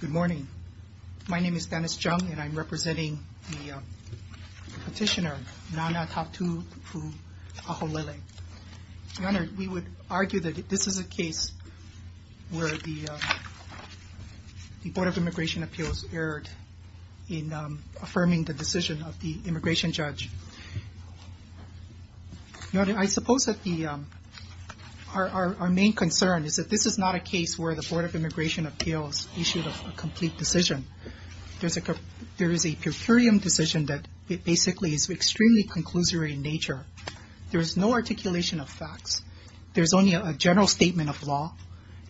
Good morning. My name is Dennis Chung, and I'm representing the petitioner Nana Tatu v. Aholelei. Your Honor, we would argue that this is a case where the Board of Immigration Appeals issued a complete decision. There is a per curiam decision that basically is extremely conclusory in nature. There is no articulation of facts. There is only a general statement of law,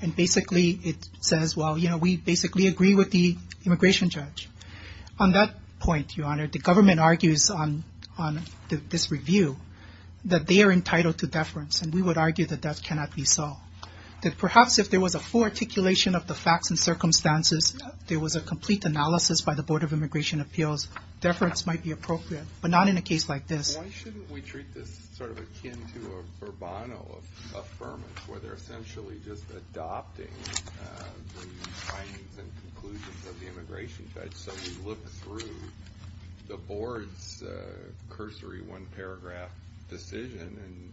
and basically it says, well, you know, we basically agree with the immigration judge. The government argues on this review that they are entitled to deference, and we would argue that that cannot be so. That perhaps if there was a full articulation of the facts and circumstances, there was a complete analysis by the Board of Immigration Appeals, deference might be appropriate, but not in a case like this. Why shouldn't we treat this sort of akin to a verbano of affirmance, where they're essentially just adopting the findings and conclusions of the immigration judge, so we look through the Board's cursory one-paragraph decision and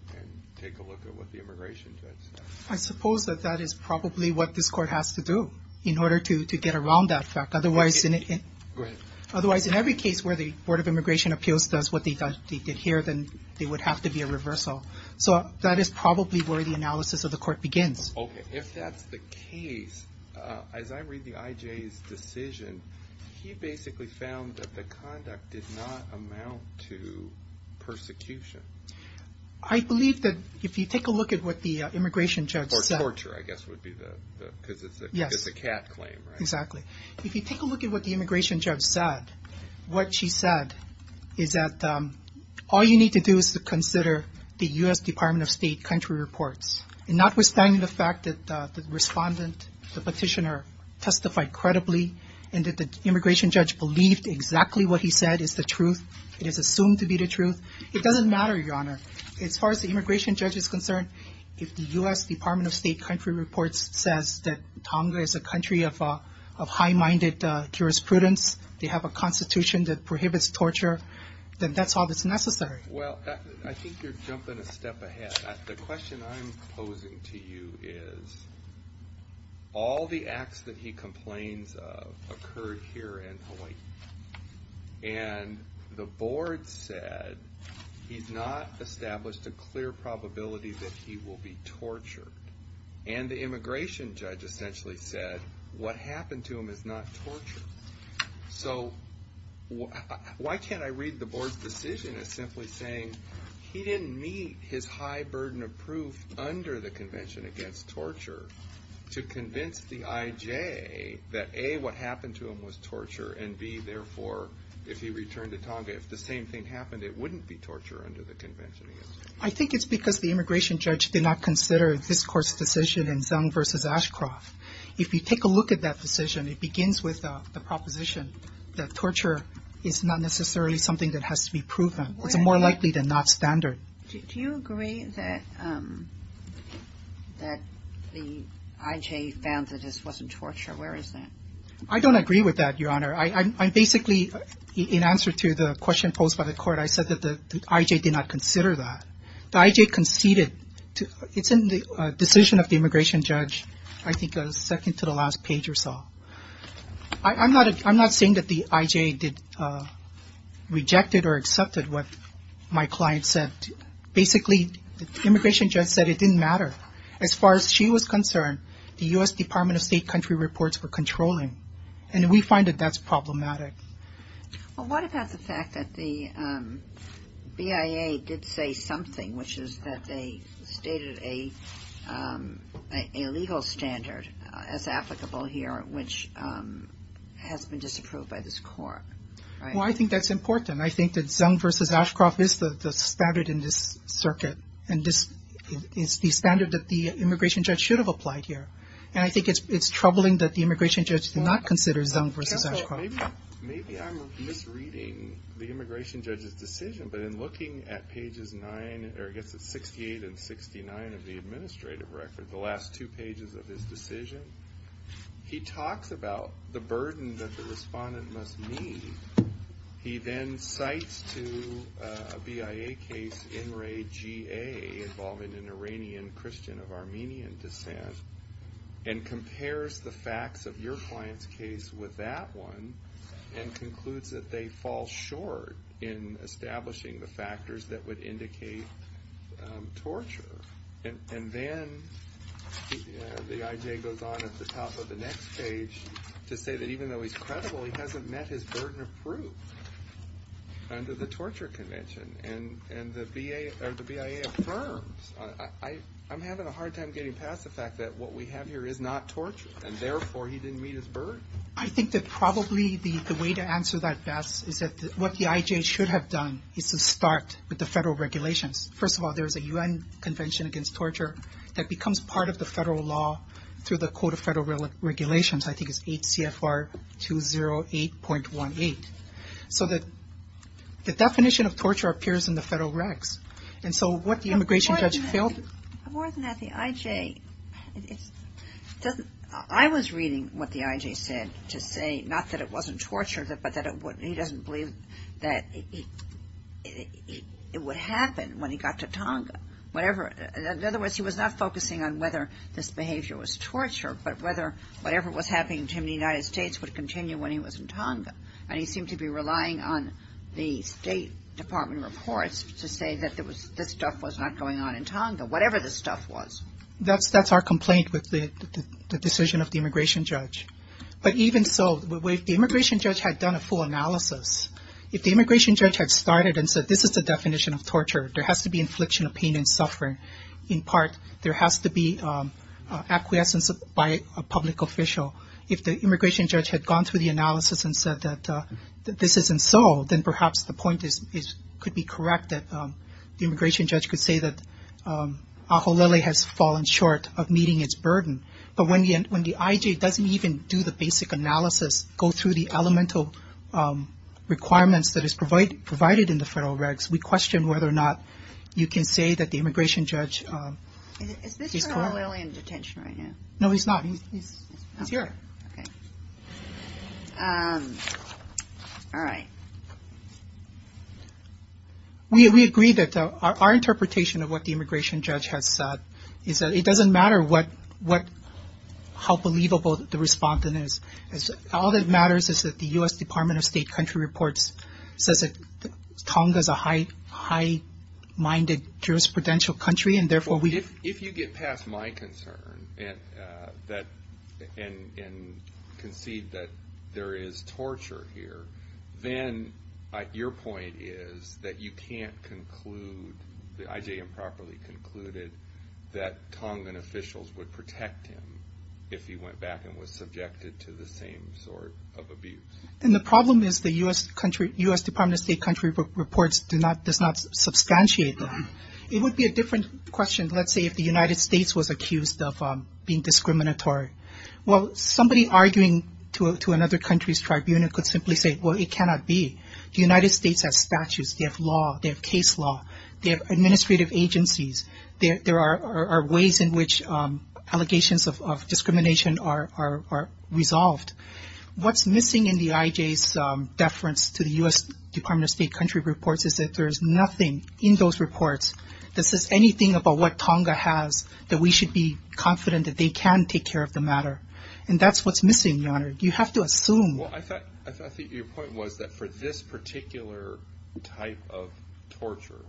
take a look at what the immigration judge said? I suppose that that is probably what this Court has to do in order to get around that fact. Otherwise, in every case where the Board of Immigration Appeals does what they did here, then there would have to be a reversal. So that is probably where the analysis of the Court begins. Okay. If that's the case, as I read the IJ's decision, he basically found that the conduct did not amount to persecution. I believe that if you take a look at what the immigration judge said... Or torture, I guess would be the... because it's a cat claim, right? Exactly. If you take a look at what the immigration judge said, what she said is that all you need to do is to consider the U.S. Department of State country reports. And notwithstanding the fact that the respondent, the petitioner, testified credibly, and that the immigration judge believed exactly what he said is the truth, it is assumed to be the truth, it doesn't matter, Your Honor. As far as the immigration judge is concerned, if the U.S. Department of State country reports says that Tonga is a country of high-minded jurisprudence, they have a constitution that prohibits torture, then that's all that's necessary. Well, I think you're jumping a step ahead. The question I'm posing to you is, all the acts that he complains of occurred here in Hawaii. And the Board said he's not established a clear probability that he will be tortured. And the immigration judge essentially said what happened to him is not torture. So why can't I read the Board's decision as simply saying he didn't meet his high burden of proof under the Convention against Torture to convince the IJ that A, what happened to him was torture, and B, therefore, if he returned to Tonga, if the same thing happened, it wouldn't be torture under the Convention against Torture. I think it's because the immigration judge did not consider this Court's decision in Zung v. Ashcroft. If you take a look at that decision, it begins with the proposition that torture is not necessarily something that has to be proven. It's more likely than not standard. Do you agree that the IJ found that this wasn't torture? Where is that? I don't agree with that, Your Honor. I basically, in answer to the question posed by the Court, I said that the IJ did not consider that. The IJ conceded. It's in the decision of the immigration judge, I think second to the last page or so. I'm not saying that the IJ rejected or accepted what my client said. Basically, the immigration judge said it didn't matter. As far as she was concerned, the U.S. Department of State country reports were controlling, and we find that that's problematic. What about the fact that the BIA did say something, which is that they stated a legal standard as applicable here, which has been disapproved by this Court? Well, I think that's important. I think that Zung v. Ashcroft is the standard in this circuit, and this is the standard that the immigration judge should have applied here. I think it's troubling that the immigration judge did not consider Zung v. Ashcroft. Maybe I'm misreading the immigration judge's decision, but in looking at pages 68 and 69 of the administrative record, the last two pages of his decision, he talks about the burden that the respondent must meet. He then cites to a BIA case NRAGA, which is a case involving an Iranian Christian of Armenian descent, and compares the facts of your client's case with that one, and concludes that they fall short in establishing the factors that would indicate torture. And then the IJ goes on at the top of the next page to say that even though he's credible, he hasn't met his burden of proof under the Torture Convention, and the BIA affirms. I'm having a hard time getting past the fact that what we have here is not torture, and therefore he didn't meet his burden. I think that probably the way to answer that, Bass, is that what the IJ should have done is to start with the federal regulations. First of all, there's a U.N. Convention Against Torture that becomes part of the federal law through the Code of Federal Regulations. I believe it's 08.18. So the definition of torture appears in the federal regs. And so what the immigration judge failed to do... More than that, the IJ doesn't... I was reading what the IJ said to say not that it wasn't torture, but that he doesn't believe that it would happen when he got to Tonga. In other words, he was not focusing on whether this behavior was torture, but whether whatever was happening to him in the United States would continue when he was in Tonga. And he seemed to be relying on the State Department reports to say that this stuff was not going on in Tonga, whatever this stuff was. That's our complaint with the decision of the immigration judge. But even so, if the immigration judge had done a full analysis, if the immigration judge had started and said this is the definition of torture, there has to be infliction of pain and suffering, in If the immigration judge had gone through the analysis and said that this isn't so, then perhaps the point could be correct that the immigration judge could say that Aholele has fallen short of meeting its burden. But when the IJ doesn't even do the basic analysis, go through the elemental requirements that is provided in the federal regs, we question whether or not you can say that the immigration judge is torture. Is Aholele in detention right now? No, he's not. He's here. All right. We agree that our interpretation of what the immigration judge has said is that it doesn't matter what, how believable the respondent is. All that matters is that the U.S. Department of State country reports says that Tonga is a high-minded jurisprudential country and therefore we If you get past my concern and concede that there is torture here, then your point is that you can't conclude, the IJ improperly concluded, that Tongan officials would protect him if he went back and was subjected to the same sort of abuse. And the problem is the U.S. Department of State country reports does not substantiate It would be a different question, let's say, if the United States was accused of being discriminatory. Well, somebody arguing to another country's tribunal could simply say, well, it cannot be. The United States has statutes. They have law. They have case law. They have administrative agencies. There are ways in which allegations of discrimination are resolved. What's missing in the IJ's deference to the U.S. Department of State country reports is that there is nothing in those reports that says anything about what Tonga has that we should be confident that they can take care of the matter. And that's what's missing, Your Honor. You have to assume. Well, I think your point was that for this particular type of torture,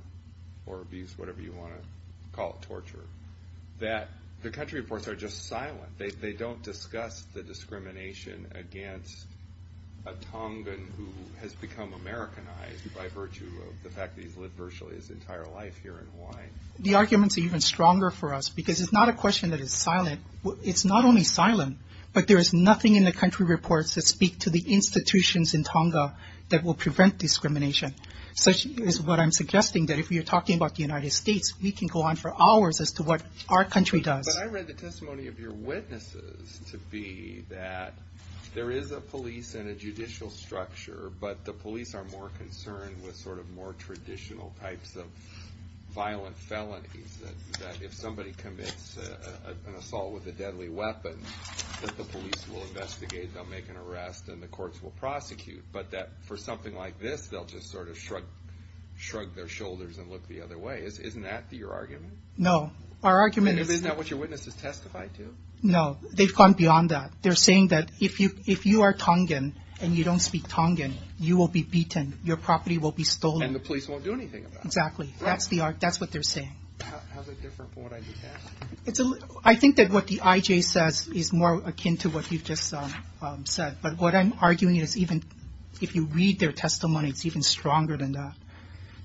or abuse, whatever you want to call it, torture, that the country reports are just silent. They don't discuss the discrimination against a Tongan who has become Americanized by virtue of the fact that he's lived virtually his entire life here in Hawaii. The arguments are even stronger for us because it's not a question that is silent. It's not only silent, but there is nothing in the country reports that speak to the institutions in Tonga that will prevent discrimination. Such is what I'm suggesting, that if you're talking about the United States, we can go on for hours as to what our country does. But I read the testimony of your witnesses to be that there is a police and a judicial structure, but the police are more concerned with sort of more traditional types of violent felonies, that if somebody commits an assault with a deadly weapon, that the police will investigate, they'll make an arrest, and the courts will prosecute. But that for something like this, they'll just sort of shrug their shoulders and look the other way. Isn't that your argument? No. Our argument is... Did your witnesses testify too? No. They've gone beyond that. They're saying that if you are Tongan and you don't speak Tongan, you will be beaten. Your property will be stolen. And the police won't do anything about it. Exactly. That's what they're saying. How's it different from what I just asked? I think that what the IJ says is more akin to what you've just said. But what I'm arguing is even if you read their testimony, it's even stronger than that.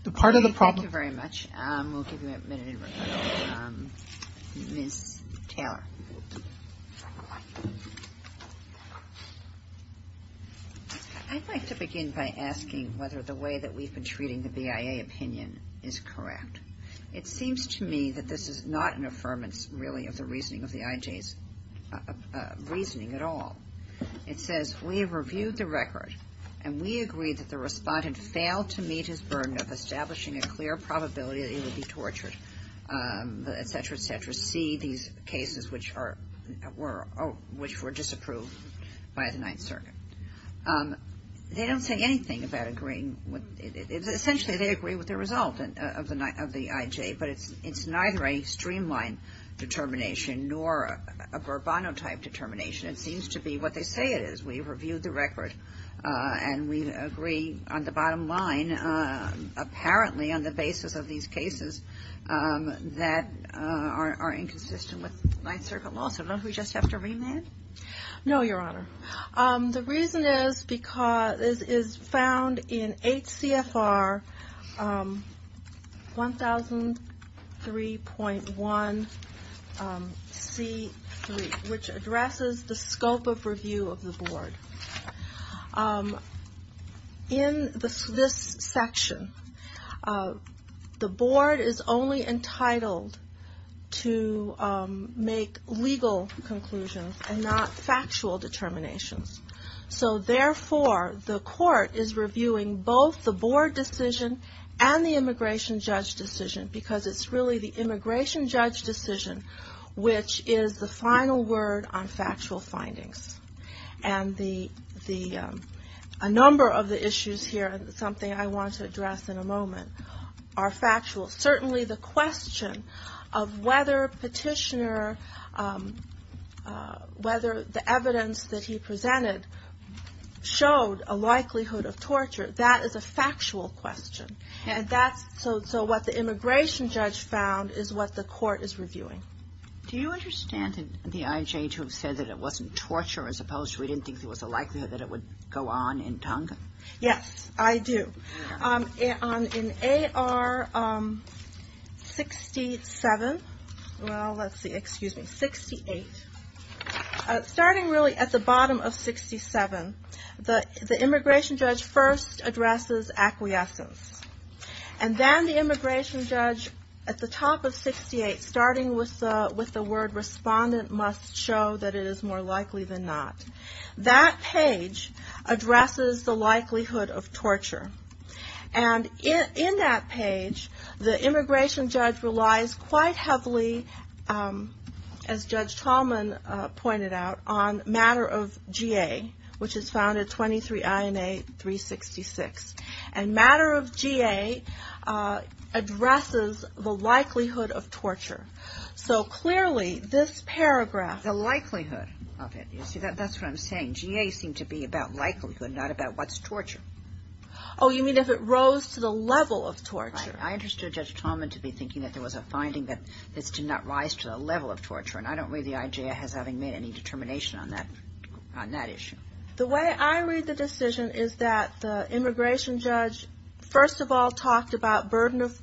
The part of the problem... We'll give you a minute in recovery. Ms. Taylor. I'd like to begin by asking whether the way that we've been treating the BIA opinion is correct. It seems to me that this is not an affirmance, really, of the reasoning of the IJ's reasoning at all. It says, we have reviewed the record, and we agree that the respondent failed to meet his burden of establishing a clear probability that he would be tortured, et cetera, et cetera, C, these cases which were disapproved by the Ninth Circuit. They don't say anything about agreeing. Essentially, they agree with the result of the IJ, but it's neither a streamlined determination nor a Bourbon-type determination. It seems to me what they say it is. We've reviewed the record, and we agree on the bottom line, apparently, on the basis of these cases that are inconsistent with Ninth Circuit law. So don't we just have to remand? No, Your Honor. The reason is because this is found in HCFR 1003.1C3, which addresses the scope of review of the Board. In this section, the Board is only entitled to make legal conclusions and not factual determinations. So therefore, the Court is reviewing both the Board decision and the immigration judge decision, because it's really the immigration judge decision which is the final word on factual findings. And a number of the issues here, something I want to address in a moment, are factual. Certainly the question of whether Petitioner, whether the evidence that he presented showed a likelihood of torture, that is a factual question. And that's so what the immigration judge found is what the Court is reviewing. Do you understand the IJ to have said that it wasn't torture, as opposed to we didn't think there was a likelihood that it would go on in Tonga? Yes, I do. In AR 68, starting really at the bottom of 67, the immigration judge first addresses acquiescence. And then the immigration judge at the top of 68, starting with the likelihood of torture. And in that page, the immigration judge relies quite heavily, as Judge Tallman pointed out, on matter of GA, which is found at 23 INA 366. And matter of GA addresses the likelihood of torture. So clearly, this paragraph, the likelihood of it. You see, that's what I'm saying. GA seemed to be about likelihood, not about what's torture. Oh, you mean if it rose to the level of torture? Right. I understood Judge Tallman to be thinking that there was a finding that this did not rise to the level of torture. And I don't read the IJ as having made any determination on that issue. The way I read the decision is that the immigration judge, first of all, talked about burden of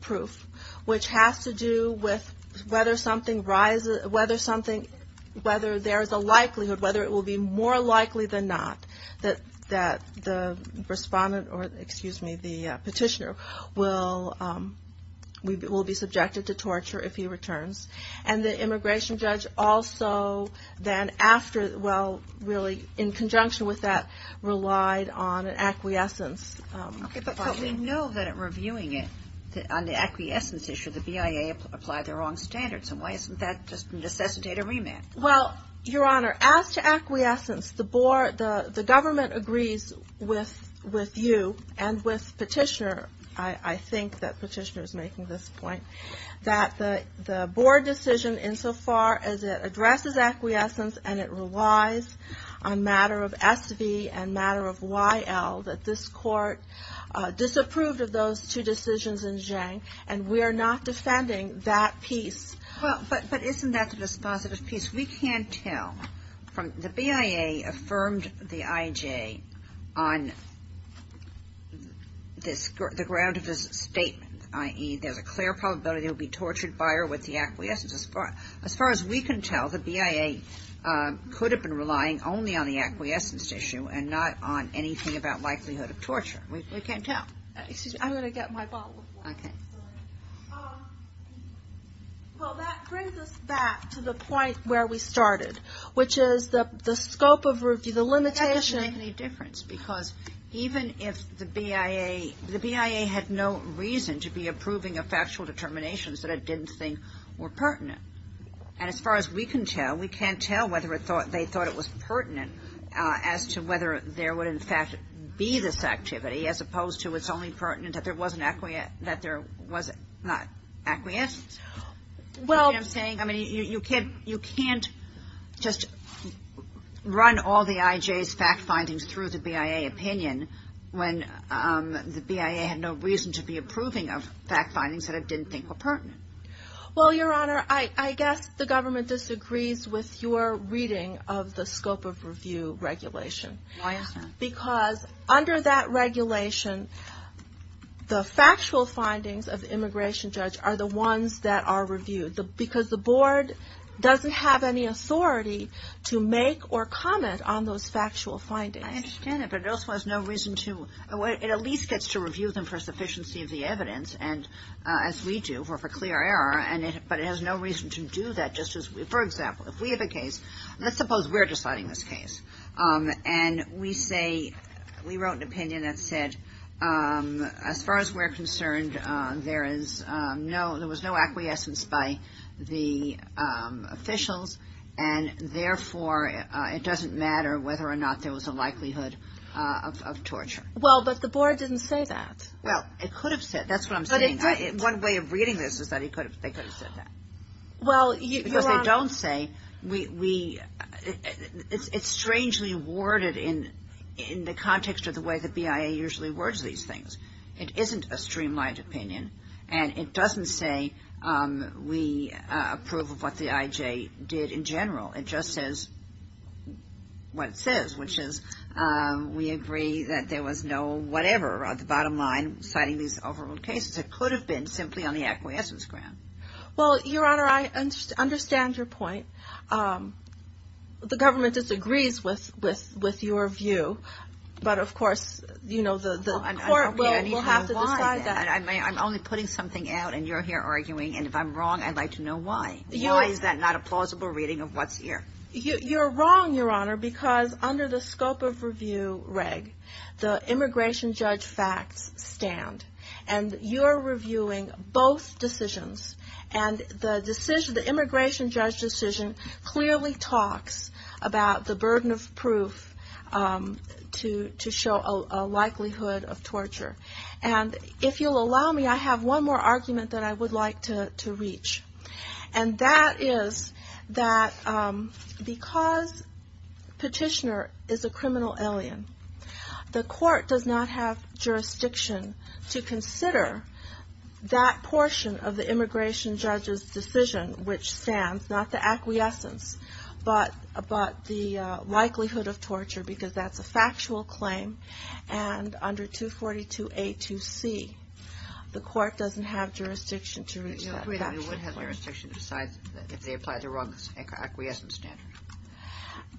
likelihood, whether it will be more likely than not that the respondent or, excuse me, the petitioner will be subjected to torture if he returns. And the immigration judge also then after, well, really in conjunction with that, relied on an acquiescence. But we know that in reviewing it, on the acquiescence issue, the BIA applied the wrong standards. And why isn't that just necessitated a remand? Well, Your Honor, as to acquiescence, the government agrees with you and with petitioner, I think that petitioner is making this point, that the board decision insofar as it addresses acquiescence and it relies on matter of SV and matter of YL, that this court disapproved of those two decisions in Zhang. And we are not defending that piece. But isn't that the dispositive piece? We can't tell. The BIA affirmed the IJ on the ground of this statement, i.e., there's a clear probability they'll be tortured by or with the acquiescence. As far as we can tell, the BIA could have been relying only on the acquiescence issue and not on anything about likelihood of torture. We can't tell. Excuse me. I'm going to get my bottle of water. Okay. Well, that brings us back to the point where we started, which is the scope of review, the limitation. That doesn't make any difference because even if the BIA, the BIA had no reason to be approving of factual determinations that it didn't think were pertinent. And as far as we can tell, we can't tell whether they thought it was pertinent as to whether there would, in fact, be this activity as opposed to it's only pertinent that there was not acquiescence. Well. You know what I'm saying? I mean, you can't just run all the IJ's fact findings through the BIA opinion when the BIA had no reason to be approving of fact findings that it didn't think were pertinent. Well, Your Honor, I guess the government disagrees with your reading of the scope of review regulation. Why is that? Because under that regulation, the factual findings of the immigration judge are the ones that are reviewed because the board doesn't have any authority to make or comment on those factual findings. I understand that, but it also has no reason to, it at least gets to review them for sufficiency of the evidence, as we do, or for clear error, but it has no reason to do that. For example, if we have a case, let's suppose we're deciding this case, and we say, we wrote an opinion that said, as far as we're concerned, there was no acquiescence by the officials, and therefore, it doesn't matter whether or not there was a likelihood of torture. Well, but the board didn't say that. Well, it could have said, that's what I'm saying. But it didn't. One way of reading this is that they could have said that. Well, Your Honor. Because they don't say, we, it's strangely worded in the context of the way the BIA usually words these things. It isn't a streamlined opinion, and it doesn't say we approve of what the IJ did in general. It just says what it says, which is, we agree that there was no whatever on the bottom line citing these overruled cases. It could have been simply on the acquiescence ground. Well, Your Honor, I understand your point. The government disagrees with your view, but of course, you know, the court will have to decide that. I'm only putting something out, and you're here arguing, and if I'm wrong, I'd like to know why. Why is that not a plausible reading of what's here? You're wrong, Your Honor, because under the scope of review reg, the immigration judge facts stand, and you're reviewing both decisions, and the decision, the immigration judge decision clearly talks about the burden of proof to show a likelihood of torture. And if you'll allow me, I have one more argument that I would like to reach, and that is that because Petitioner is a criminal alien, the court does not have jurisdiction to consider that portion of the immigration judge's decision, which stands, not the acquiescence, but the likelihood of torture, because that's a factual claim. And under 242A2C, the court doesn't have jurisdiction to reach that factual claim. You would have jurisdiction to decide if they applied the wrong acquiescence standard.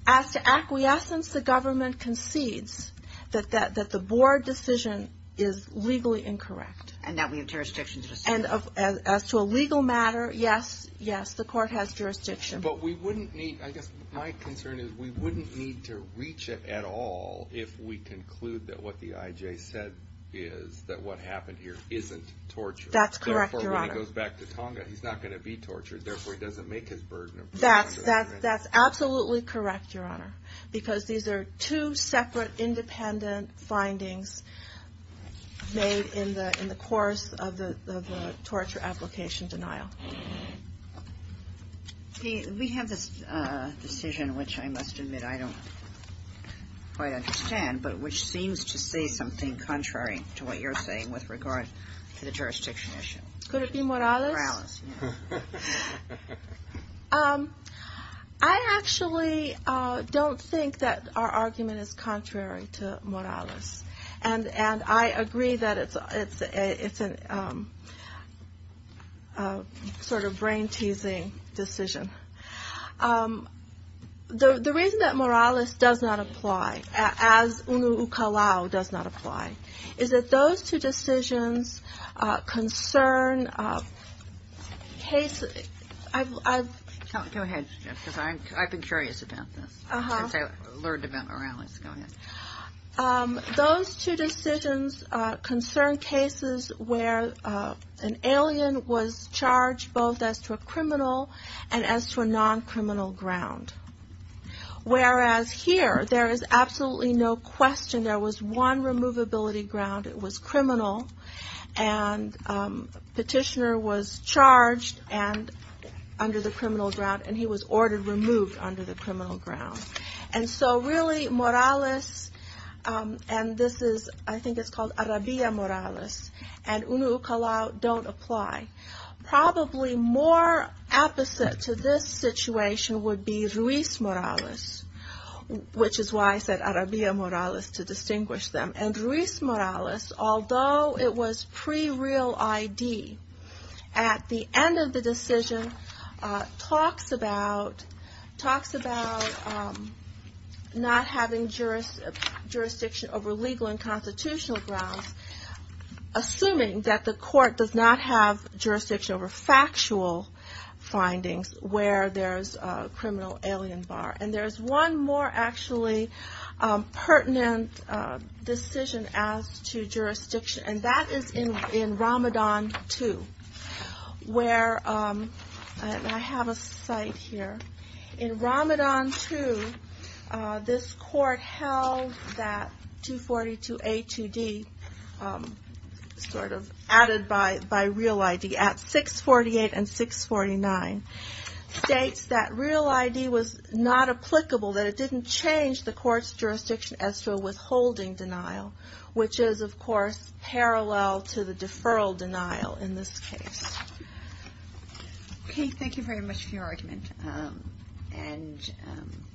As to acquiescence, the government concedes that the board decision is legally incorrect. And that we have jurisdiction to decide. And as to a legal matter, yes, yes, the court has jurisdiction. But we wouldn't need, I guess my concern is we wouldn't need to reach it at all if we conclude that what the IJ said is that what happened here isn't torture. That's correct, Your Honor. Therefore, when he goes back to Tonga, he's not going to be tortured. Therefore, he doesn't make his burden of torture. That's absolutely correct, Your Honor. Because these are two separate independent findings made in the course of the torture application denial. We have this decision, which I must admit I don't quite understand, but which seems to say something contrary to what you're saying with regard to the jurisdiction issue. Could it be Morales? Morales, yes. I actually don't think that our argument is contrary to Morales. And I agree that it's a sort of brain-teasing decision. The reason that Morales does not apply, as UNU-UCALAO does not apply, is that those two decisions concern cases where an alien was charged both as to a criminal and as to a non-criminal ground. Whereas here, there is absolutely no question there was one removability ground. It was criminal, and the petitioner was charged under the criminal ground, and he was ordered removed under the criminal ground. And so, really, Morales, and this is, I think it's called Arabilla Morales, and UNU-UCALAO don't apply. Probably more opposite to this situation would be Ruiz Morales, which is why I said Arabilla Morales to distinguish them. And Ruiz Morales, although it was pre-real ID, at the end of the decision, talks about not having jurisdiction over legal and constitutional grounds, assuming that the court does not have jurisdiction over factual findings where there's a criminal alien bar. And there's one more, actually, pertinent decision as to jurisdiction, and that is in Ramadan 2, where, and I have a site here, in Ramadan 2, this court held that 242A2D, sort of added by real ID, at 648 and 649, states that real ID was not applicable, that it didn't change the court's jurisdiction as to a withholding denial, which is, of course, parallel to the deferral denial in this case. Okay, thank you very much for your argument, and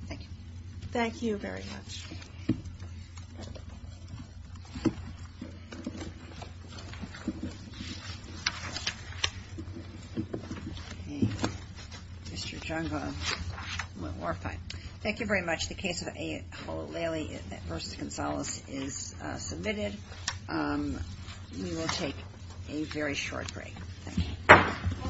thank you. Thank you very much. Thank you very much. Thank you very much. The case of A. Hullo-Laylee v. Gonzales is submitted. We will take a very short break. Thank you.